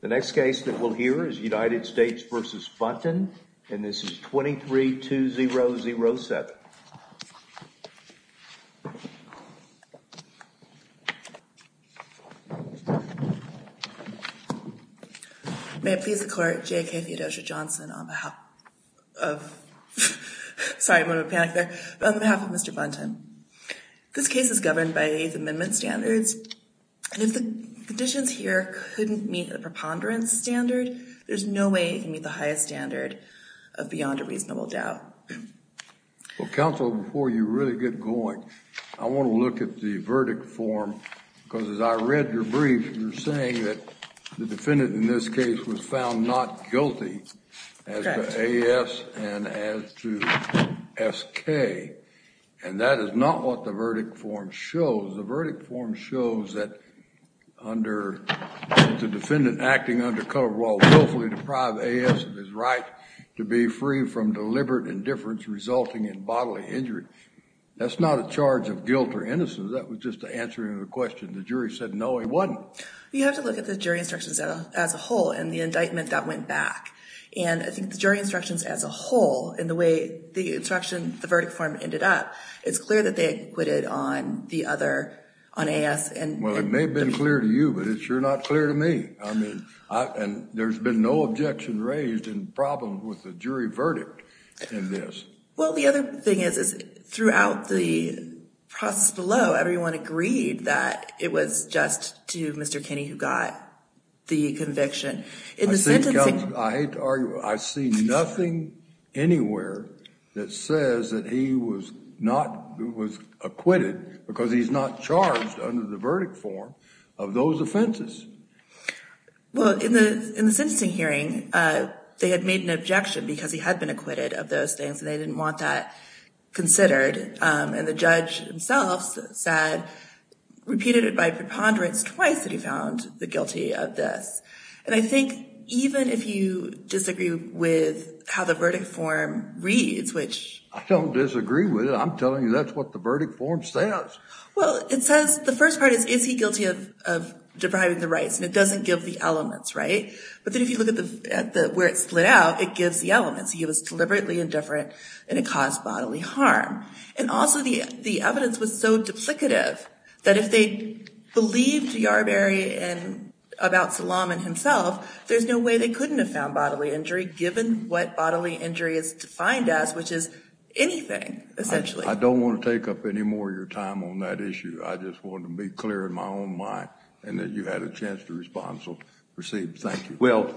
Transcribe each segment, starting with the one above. The next case that we'll hear is United States v. Buntyn and this is 23-2007. May it please the court, J.K. Theodosia Johnson on behalf of, sorry I'm going to panic there, but on behalf of Mr. Buntyn. This case is governed by the eighth amendment standards and if the conditions here couldn't meet the preponderance standard, there's no way it can meet the highest standard of beyond a reasonable doubt. Well counsel before you really get going, I want to look at the verdict form because as I read your brief you're saying that the defendant in this case was found not guilty as to AS and as to those that under the defendant acting under color while willfully deprive AS of his right to be free from deliberate indifference resulting in bodily injury. That's not a charge of guilt or innocence, that was just to answer your question. The jury said no it wasn't. You have to look at the jury instructions as a whole and the indictment that went back and I think the jury instructions as a whole and the way the instruction, the verdict form ended up, it's clear that they Well it may have been clear to you but it's sure not clear to me. I mean and there's been no objection raised and problems with the jury verdict in this. Well the other thing is throughout the process below everyone agreed that it was just to Mr. Kinney who got the conviction. In the sentencing I hate to argue I see nothing anywhere that says that he was not was acquitted because he's not charged under the verdict form of those offenses. Well in the in the sentencing hearing they had made an objection because he had been acquitted of those things and they didn't want that considered and the judge himself said repeated it by preponderance twice that he found the guilty of this and I think even if you disagree with how the verdict form reads which I don't disagree with it I'm telling you that's what the verdict form says well it says the first part is is he guilty of depriving the rights and it doesn't give the elements right but then if you look at the at the where it split out it gives the elements he was deliberately indifferent and it caused bodily harm and also the the evidence was so duplicative that if they believed Yarberry and about Salamon himself there's no way they given what bodily injury is defined as which is anything essentially. I don't want to take up any more your time on that issue I just want to be clear in my own mind and that you had a chance to respond so proceed thank you. Well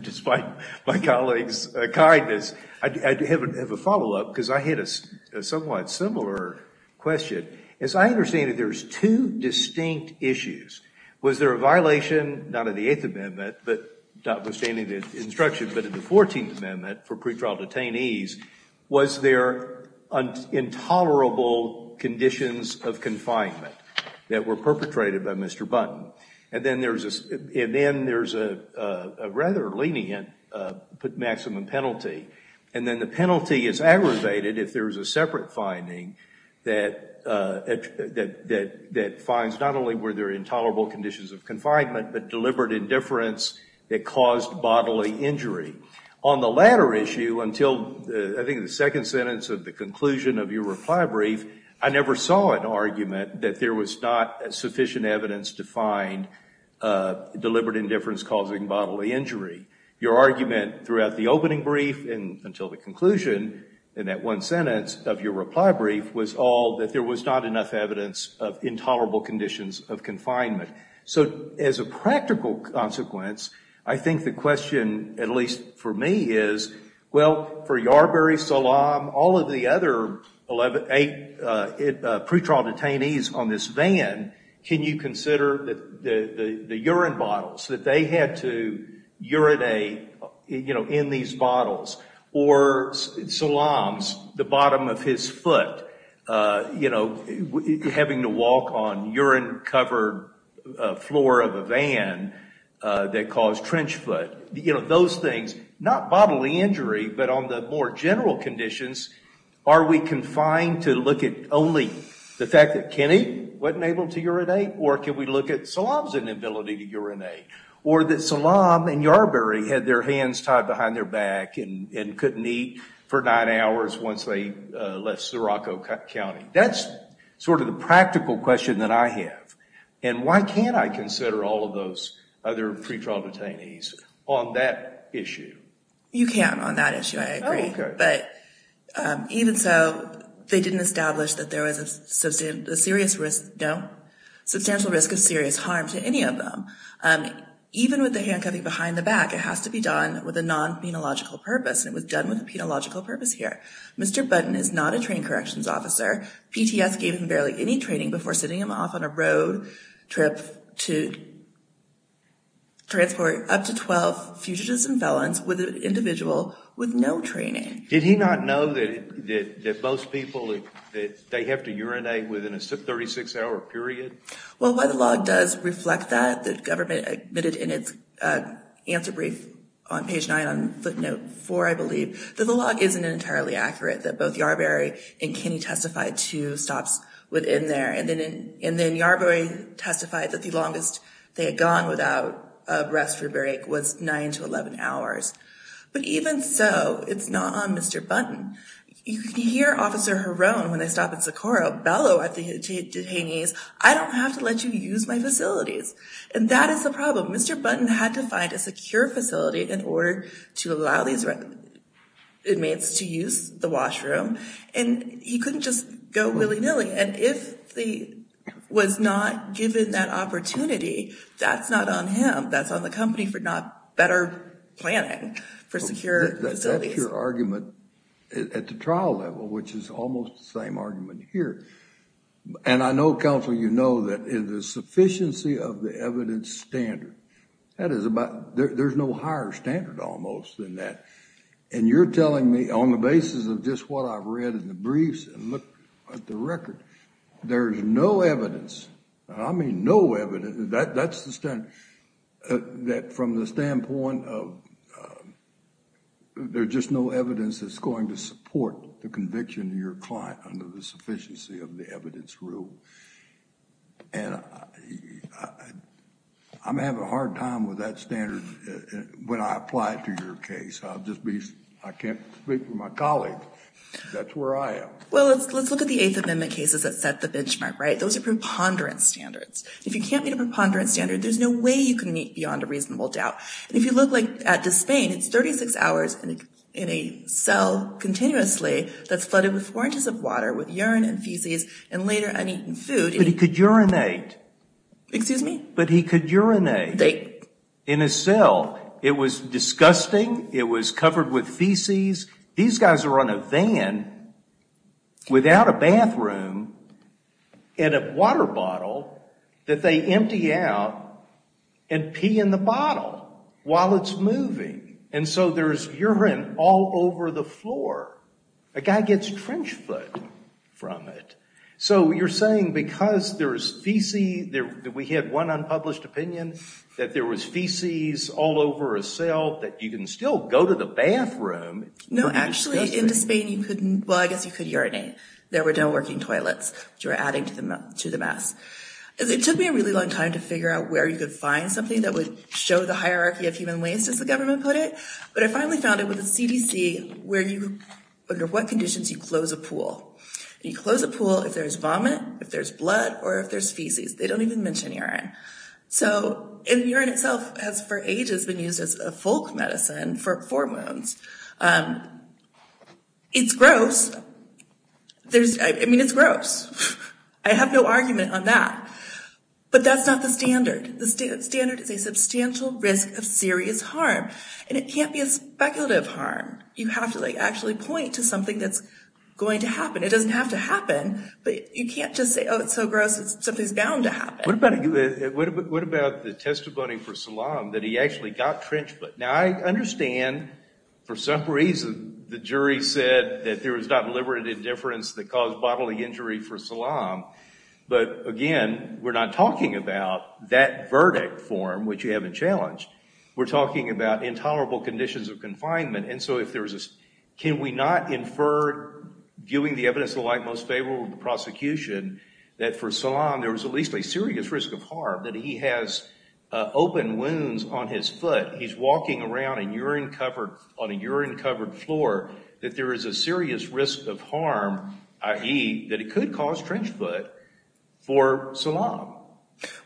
despite my colleague's kindness I do have a follow-up because I hit a somewhat similar question as I understand it there's two distinct issues was there a violation not in the eighth amendment but notwithstanding the instruction but in the 14th amendment for pretrial detainees was there intolerable conditions of confinement that were perpetrated by Mr. Button and then there's a rather lenient maximum penalty and then the penalty is aggravated if there's a separate finding that finds not only were there intolerable conditions of confinement but deliberate indifference that caused bodily injury. On the latter issue until I think the second sentence of the conclusion of your reply brief I never saw an argument that there was not sufficient evidence to find deliberate indifference causing bodily injury. Your argument throughout the opening brief and until the conclusion in that one sentence of your reply brief was all that there was not enough evidence of intolerable conditions of confinement. So as a practical consequence I think the question at least for me is well for Yarbury, Salam, all of the other 11, eight pretrial detainees on this van can you consider that the urine bottles that they had to or Salam's the bottom of his foot you know having to walk on urine covered floor of a van that caused trench foot you know those things not bodily injury but on the more general conditions are we confined to look at only the fact that Kenny wasn't able to urinate or can we look at Salam's inability to urinate or that Salam and Yarbury had their hands tied behind their back and couldn't eat for nine hours once they left Sirocco County. That's sort of the practical question that I have and why can't I consider all of those other pretrial detainees on that issue? You can on that issue I agree but even so they didn't establish that there was a substantial risk of serious harm to any of them. Even with the and it was done with a penological purpose here. Mr. Button is not a train corrections officer. PTS gave him barely any training before sending him off on a road trip to transport up to 12 fugitives and felons with an individual with no training. Did he not know that that most people that they have to urinate within a 36 hour period? Well why the log does reflect that? The government admitted in its answer brief on page nine on footnote four I believe that the log isn't entirely accurate that both Yarbury and Kenny testified to stops within there and then and then Yarbury testified that the longest they had gone without a respiratory break was nine to eleven hours. But even so it's not on Mr. Button. You can hear officer Harone when they stop at and that is the problem. Mr. Button had to find a secure facility in order to allow these inmates to use the washroom and he couldn't just go willy-nilly and if he was not given that opportunity that's not on him. That's on the company for not better planning for secure facilities. That's your argument at the trial level which is almost the same argument here and I know counsel you know that in the sufficiency of the evidence standard that is about there's no higher standard almost than that and you're telling me on the basis of just what I've read in the briefs and looked at the record there's no evidence I mean no evidence that that's the standard that from the standpoint of there's just no evidence that's going to support the evidence rule and I'm having a hard time with that standard when I apply it to your case. I'll just be I can't speak for my colleagues that's where I am. Well let's look at the eighth amendment cases that set the benchmark right those are preponderance standards. If you can't meet a preponderance standard there's no way you can meet beyond a reasonable doubt. If you look like at Dyspain it's 36 hours in a cell continuously that's flooded with four inches of water with urine and feces and later uneaten food. But he could urinate. Excuse me? But he could urinate in a cell it was disgusting it was covered with feces these guys are on a van without a bathroom in a water bottle that they empty out and pee in the bottle while it's moving and so there's trench foot from it. So you're saying because there's feces there we had one unpublished opinion that there was feces all over a cell that you can still go to the bathroom. No actually in Dyspain you couldn't well I guess you could urinate there were no working toilets which were adding to the to the mess. It took me a really long time to figure out where you could find something that would show the hierarchy of human waste as the government put it but I finally found it with you close a pool. You close a pool if there's vomit if there's blood or if there's feces they don't even mention urine. So if urine itself has for ages been used as a folk medicine for hormones it's gross there's I mean it's gross. I have no argument on that but that's not the standard. The standard is a substantial risk of serious harm and it can't be a speculative harm. You have to actually point to something that's going to happen. It doesn't have to happen but you can't just say oh it's so gross something's bound to happen. What about what about the testimony for Salam that he actually got trench foot. Now I understand for some reason the jury said that there was not deliberate indifference that caused bodily injury for Salam but again we're not talking about that verdict form which you haven't challenged. We're talking about intolerable conditions of confinement and so if there's a can we not infer giving the evidence the light most favorable the prosecution that for Salam there was at least a serious risk of harm that he has open wounds on his foot. He's walking around in urine covered on a urine covered floor that there is a serious risk of harm i.e. that it could cause trench foot for Salam.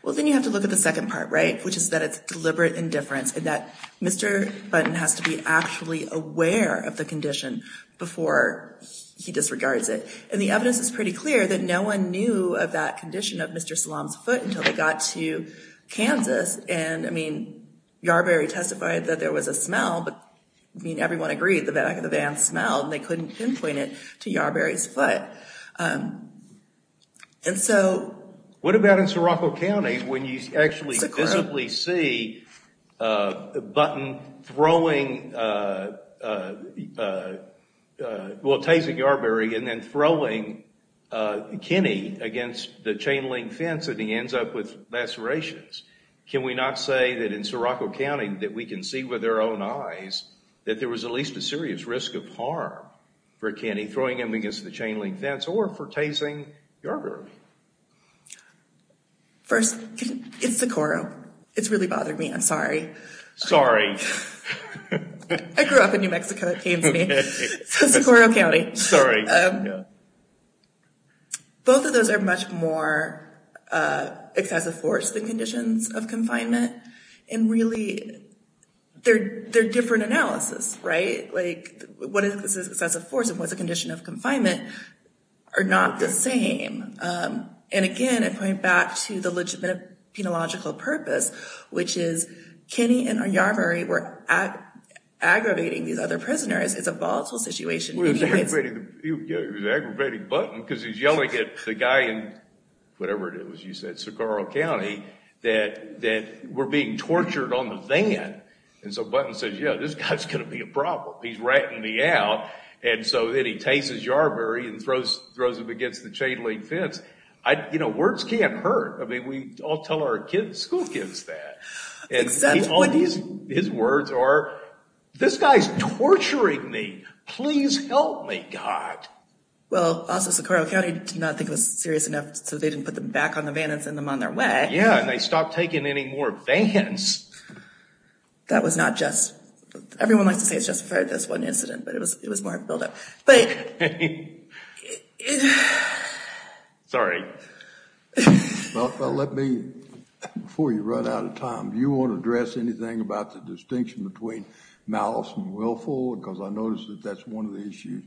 Well then you have to look at the second part right which is that it's deliberate indifference and that Mr. Button has to be actually aware of the condition before he disregards it and the evidence is pretty clear that no one knew of that condition of Mr. Salam's foot until they got to Kansas and I mean Yarberry testified that there was a smell but I mean everyone agreed the back of the van smelled they couldn't pinpoint it to Yarberry's um and so what about in Sirocco County when you actually visibly see uh Button throwing uh uh uh well tasing Yarberry and then throwing uh Kenny against the chain-link fence and he ends up with lacerations. Can we not say that in Sirocco County that we can see with their own eyes that there was at least a serious risk of harm for Kenny throwing him against the chain-link fence or for tasing Yarberry? First it's Socorro. It's really bothered me. I'm sorry. Sorry. I grew up in New Mexico. It pains me. Socorro County. Sorry. Both of those are much more uh excessive force than conditions of confinement and really they're they're different analysis right like what is this excessive force and what's the condition of confinement are not the same um and again I point back to the legitimate penological purpose which is Kenny and Yarberry were aggravating these other prisoners. It's a volatile situation. He was aggravating Button because he's yelling at the guy in whatever it is you said Socorro County that that were being tortured on the van and so Button says yeah this guy's gonna be a problem. He's ratting me out and so then he tases Yarberry and throws throws him against the chain-link fence. I you know words can't hurt. I mean we all tell our kids school kids that and all these his words are this guy's torturing me. Please help me God. Well also Socorro County did not think it was enough so they didn't put them back on the van and send them on their way. Yeah and they stopped taking any more vans. That was not just everyone likes to say it's just for this one incident but it was it was more build-up but sorry. Well let me before you run out of time. Do you want to address anything about the distinction between malice and willful because I noticed that that's one of the issues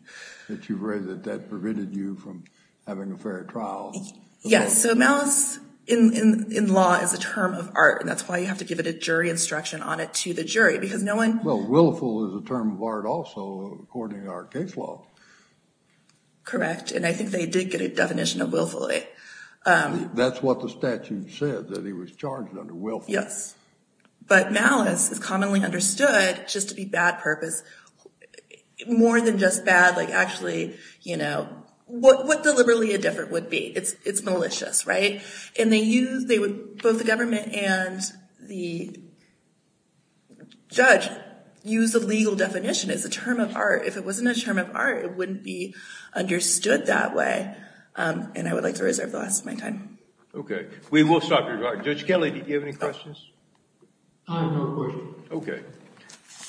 that you've raised that that prevented you from having a fair trial. Yes so malice in in law is a term of art and that's why you have to give it a jury instruction on it to the jury because no one. Well willful is a term of art also according to our case law. Correct and I think they did get a definition of willfully. That's what the statute said that he was charged under willful. Yes but malice is commonly understood just to be bad purpose more than just bad like actually you know what what deliberately a different would be it's it's malicious right and they use they would both the government and the judge use the legal definition as a term of art if it wasn't a term of art it wouldn't be understood that way and I would like to reserve the last of my time. Okay we will stop your time. Judge Kelley did you have any questions? I have no questions. Okay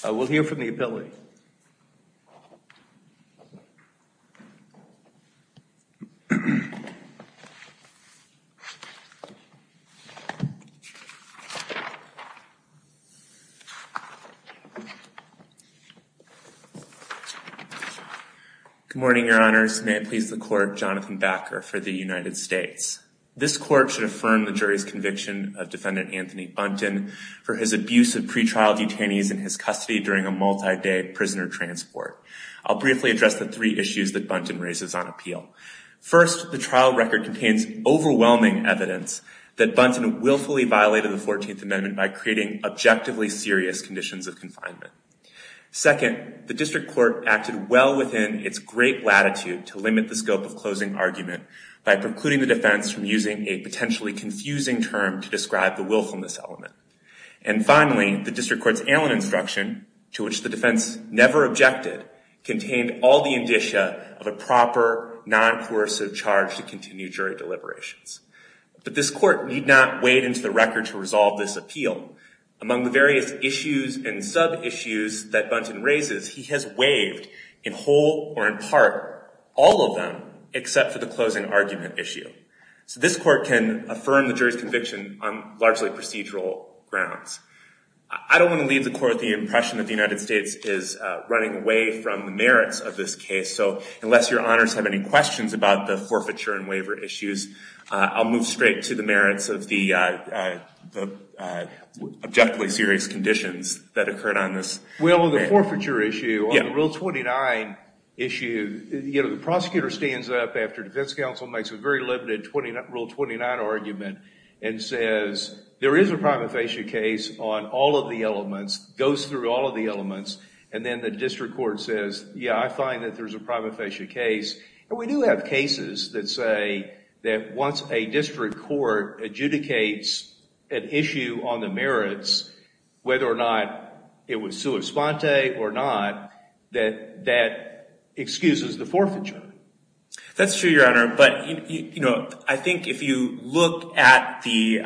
we'll hear from the appellate. Good morning your honors. May it please the court Jonathan Backer for the United States. This court should affirm the jury's conviction of defendant Anthony Buntin for his abuse of pre-trial detainees in his custody during a multi-day prisoner transport. I'll briefly address the three issues that Buntin raises on appeal. First the trial record contains overwhelming evidence that Buntin willfully violated the 14th amendment by creating objectively serious conditions of confinement. Second the district court acted well within its great latitude to limit the scope of closing argument by precluding the defense from using a potentially confusing term to describe the willfulness element. And finally the district court's Allen instruction to which the defense never objected contained all the indicia of a proper non-coercive charge to continue jury deliberations. But this court need not wade into the record to resolve this appeal. Among the various issues and sub-issues that Buntin raises he has waived in whole or in part all of them except for the closing argument issue. So this court can affirm the jury's conviction on largely procedural grounds. I don't want to leave the court the impression that the United States is running away from the merits of this case so unless your honors have any questions about the forfeiture and waiver issues I'll move straight to the merits of the objectively serious conditions that occurred on this. Well the forfeiture issue on rule 29 issue you know the and says there is a prima facie case on all of the elements goes through all of the elements and then the district court says yeah I find that there's a prima facie case and we do have cases that say that once a district court adjudicates an issue on the merits whether or not it was sua sponte or not that that excuses the forfeiture. That's true your honor but you know I think if you look at the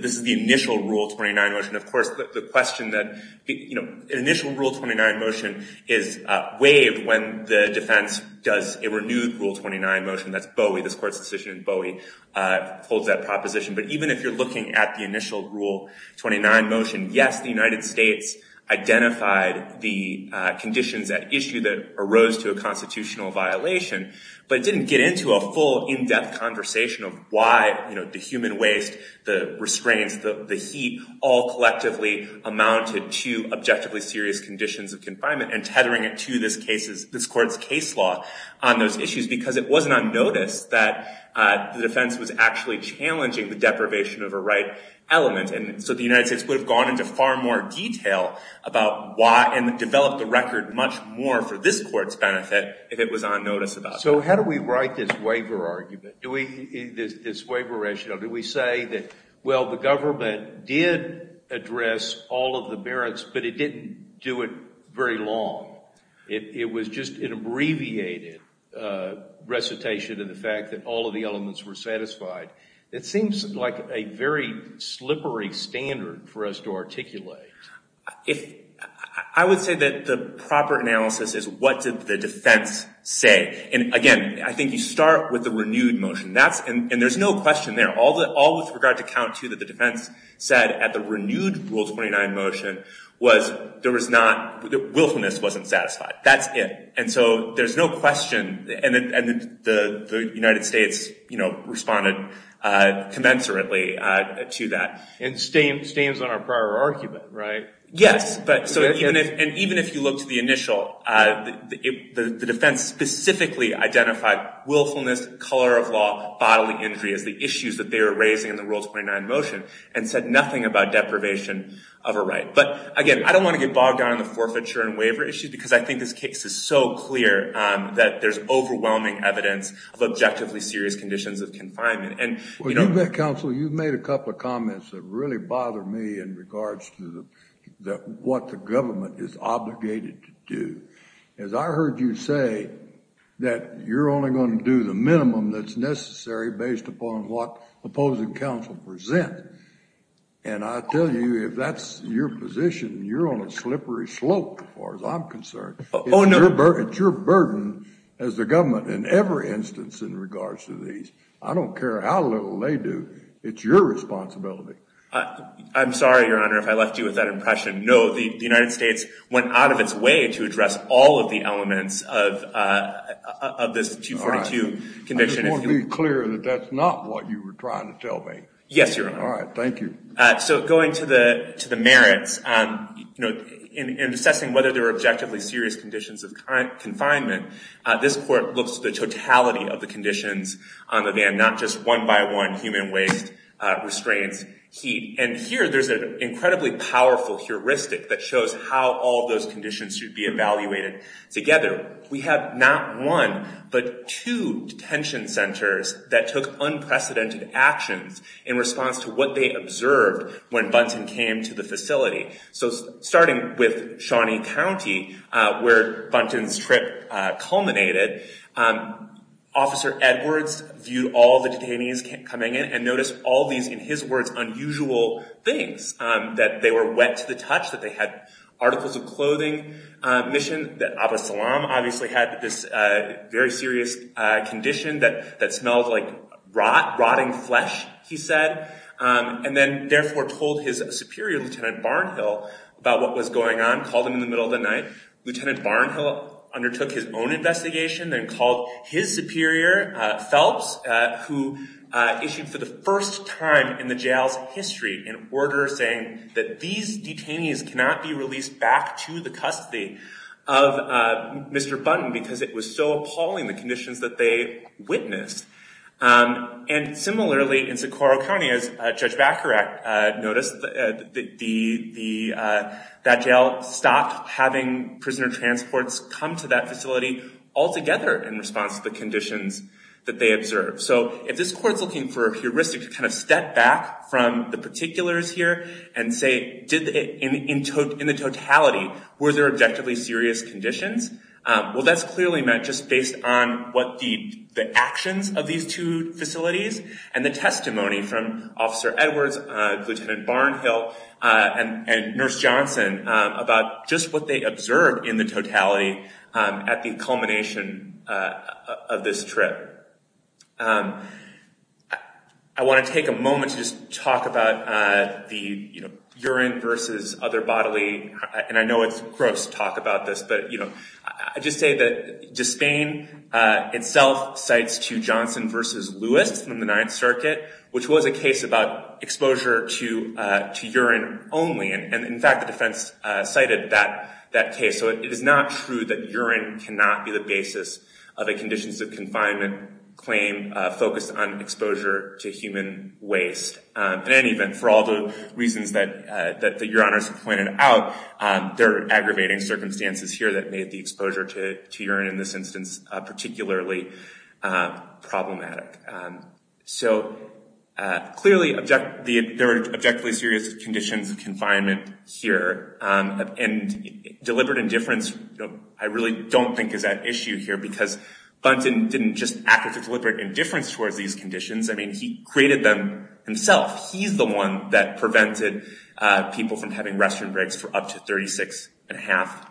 this is the initial rule 29 motion of course the question that you know initial rule 29 motion is waived when the defense does a renewed rule 29 motion that's Bowie this court's decision Bowie holds that proposition but even if you're looking at the initial rule 29 motion yes the United States identified the conditions at issue that arose to a constitutional violation but it didn't get into a full in-depth conversation of why you know the human waste the restraints the heat all collectively amounted to objectively serious conditions of confinement and tethering it to this case's this court's case law on those issues because it wasn't on notice that the defense was actually challenging the deprivation of a right element and so the United States would have gone into far more detail about why and developed the record much more for this court's benefit if it was on notice about so how do we write this waiver argument do we this waiver rationale do we say that well the government did address all of the merits but it didn't do it very long it was just an abbreviated recitation of the fact that all of the elements were satisfied it seems like a very slippery standard for us to articulate if I would say that the proper analysis is what did the defense say and again I think you start with the renewed motion that's and there's no question there all that all with regard to count to that the defense said at the renewed rules 29 motion was there was not the willfulness wasn't satisfied that's it and so there's no question and the United States you know responded commensurately to that and stains on our prior argument right yes but so even if and even if you look to the initial the defense specifically identified willfulness color of law bodily injury as the issues that they were raising in the world 29 motion and said nothing about deprivation of a right but again I don't want to get bogged down on the forfeiture and waiver issue because I think this case is so clear that there's overwhelming evidence of objectively serious conditions of confinement and you know that counsel you've couple of comments that really bother me in regards to the that what the government is obligated to do as I heard you say that you're only going to do the minimum that's necessary based upon what opposing counsel present and I tell you if that's your position you're on a slippery slope as far as I'm concerned oh no it's your burden as the government in every instance in your responsibility I'm sorry your honor if I left you with that impression no the United States went out of its way to address all of the elements of uh of this 242 conviction if you want to be clear that that's not what you were trying to tell me yes your honor all right thank you uh so going to the to the merits um you know in assessing whether there are objectively serious conditions of current confinement uh this court looks to the totality of the conditions on the van not just one by one human waste uh restraints heat and here there's an incredibly powerful heuristic that shows how all those conditions should be evaluated together we have not one but two detention centers that took unprecedented actions in response to what they observed when Bunton came to the facility so starting with Shawnee County uh where Bunton's trip uh culminated um officer Edwards viewed all the detainees coming in and noticed all these in his words unusual things um that they were wet to the touch that they had articles of clothing um mission that Abba Salam obviously had this uh very serious uh condition that that smelled like rot rotting flesh he said um and then therefore told his superior lieutenant Barnhill about what was going on called him in the middle of the night lieutenant Barnhill undertook his own investigation then called his superior uh Phelps uh who uh issued for the first time in the jail's history an order saying that these detainees cannot be released back to the custody of uh Mr. Bunton because it was so appalling the conditions that they witnessed um and similarly in Socorro County as uh Judge Baccarat uh noticed that the the uh that jail stopped having prisoner transports come to that facility altogether in response to the conditions that they observed so if this court's looking for a heuristic to kind of step back from the particulars here and say did it in in the totality were there objectively serious conditions um well that's clearly meant just based on what the the actions of these two facilities and the testimony from officer Edwards uh lieutenant Barnhill uh and and nurse Johnson um about just what they observed in the totality um at the culmination uh of this trip um I want to take a moment to just talk about uh the you know urine versus other bodily and I know it's gross talk about this but you know I just say that disdain uh itself cites to Johnson versus Lewis from the Ninth Circuit which was a case about exposure to uh to urine only and in fact the defense uh cited that that case so it is not true that urine cannot be the basis of a conditions of confinement claim focused on exposure to human waste in any event for all the reasons that uh that your honors have pointed out um they're aggravating circumstances here that made the so uh clearly object the objectively serious conditions of confinement here um and deliberate indifference I really don't think is that issue here because Bunton didn't just act with a deliberate indifference towards these conditions I mean he created them himself he's the one that prevented uh people from having restroom breaks for up to 36 and a half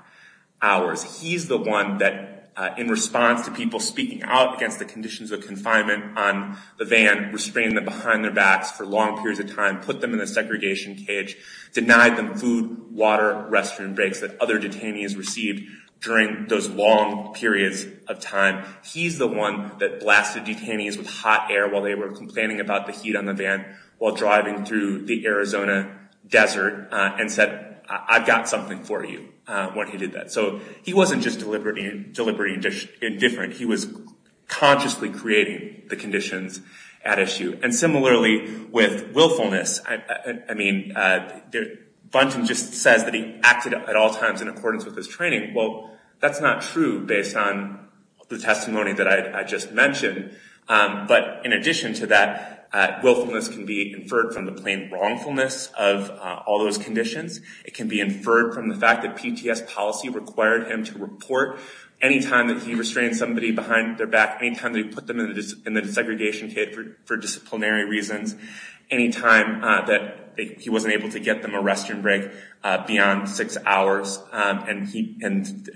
hours he's the one that in response to people speaking out against the conditions of confinement on the van restraining them behind their backs for long periods of time put them in a segregation cage denied them food water restroom breaks that other detainees received during those long periods of time he's the one that blasted detainees with hot air while they were complaining about the heat on the van while driving through the Arizona desert and said I've got something for you uh when he did that so he wasn't just deliberately deliberately indifferent he was consciously creating the conditions at issue and similarly with willfulness I mean uh Bunton just says that he acted at all times in accordance with his training well that's not true based on the testimony that I just mentioned um but in addition to that uh willfulness can be inferred from the plain wrongfulness of all those conditions it can be inferred from the fact that PTS policy required him to report any time that he restrained somebody behind their back any time they put them in the segregation kit for disciplinary reasons any time that he wasn't able to get them a restroom break beyond six hours and he and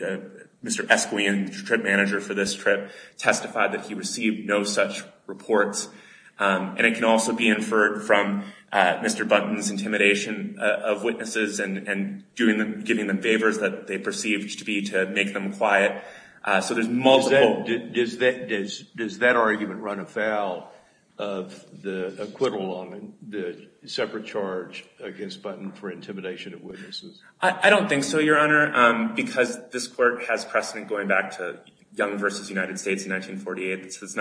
Mr. Esquion trip manager for this trip testified that he received no such reports um and it can also be inferred from uh Mr. Bunton's intimidation of witnesses and and doing them giving them favors that they perceived to be to make them quiet uh so there's multiple does that does does that argument run afoul of the acquittal on the separate charge against button for intimidation of witnesses I don't think so your honor um because this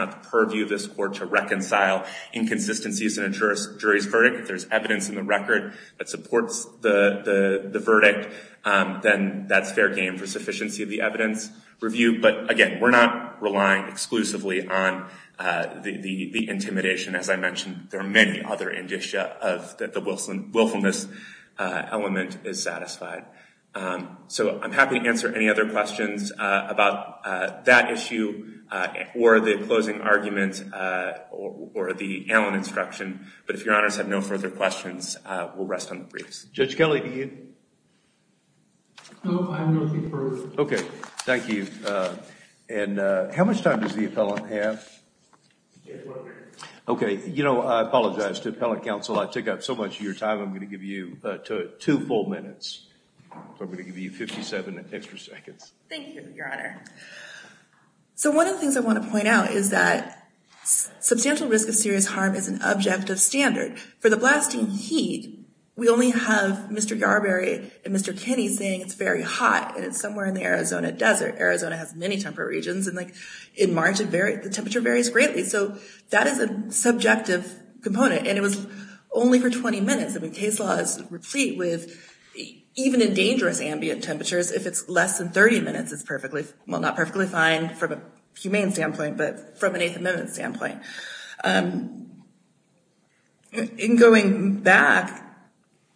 purview this court to reconcile inconsistencies and ensure jury's verdict if there's evidence in the record that supports the the verdict um then that's fair game for sufficiency of the evidence review but again we're not relying exclusively on uh the the intimidation as I mentioned there are many other indicia of that the Wilson willfulness uh element is satisfied um so I'm happy to answer any other questions uh about uh that issue uh or the closing argument uh or the Allen instruction but if your honors have no further questions uh we'll rest on the briefs Judge Kelly do you know I'm going to be first okay thank you uh and uh how much time does the appellant have okay you know I apologize to appellate counsel I took up so much of your time I'm going to give you uh two full minutes so I'm going to give you 57 extra seconds thank you your honor so one of the things I want to point out is that substantial risk of serious harm is an objective standard for the blasting heat we only have Mr. Yarberry and Mr. Kinney saying it's very hot and it's somewhere in the Arizona desert Arizona has many temperate regions and like in March it varied the temperature varies greatly so that is a subjective component and it was only for 20 minutes I mean case law is replete with even in dangerous ambient temperatures if it's less than 30 minutes it's perfectly well not perfectly fine from a humane standpoint but from an eighth amendment standpoint um in going back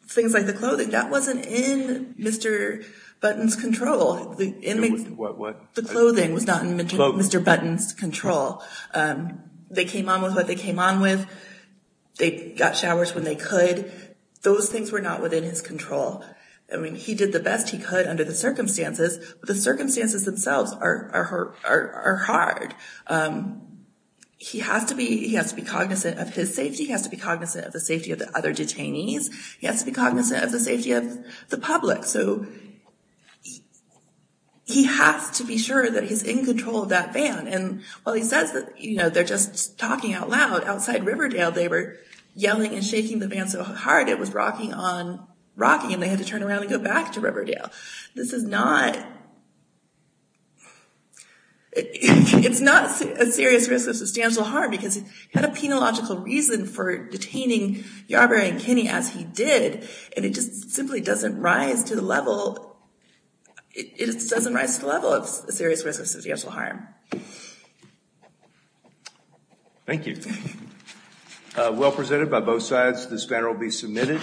things like the clothing that wasn't in Mr. Button's control the inmates what the clothing was not in Mr. Button's control um they came on with what they came on with they got showers when they could those things were not within his control I mean he did the best he could under the circumstances but the circumstances themselves are are hard um he has to be he has to be cognizant of his safety he has to be cognizant of the safety of the other detainees he has to be cognizant of the safety of the public so he has to be sure that he's in control of that van and while he says that you know they're just talking out loud outside Riverdale they were yelling and shaking the van so hard it was rocking on rocking and they had to turn around and go back to Riverdale this is not it's not a serious risk of substantial harm because he had a penological reason for detaining Yarbrough and Kinney as he did and it just simply doesn't rise to the level it doesn't rise to the level of serious risk of substantial harm thank you well presented by both sides this matter will be submitted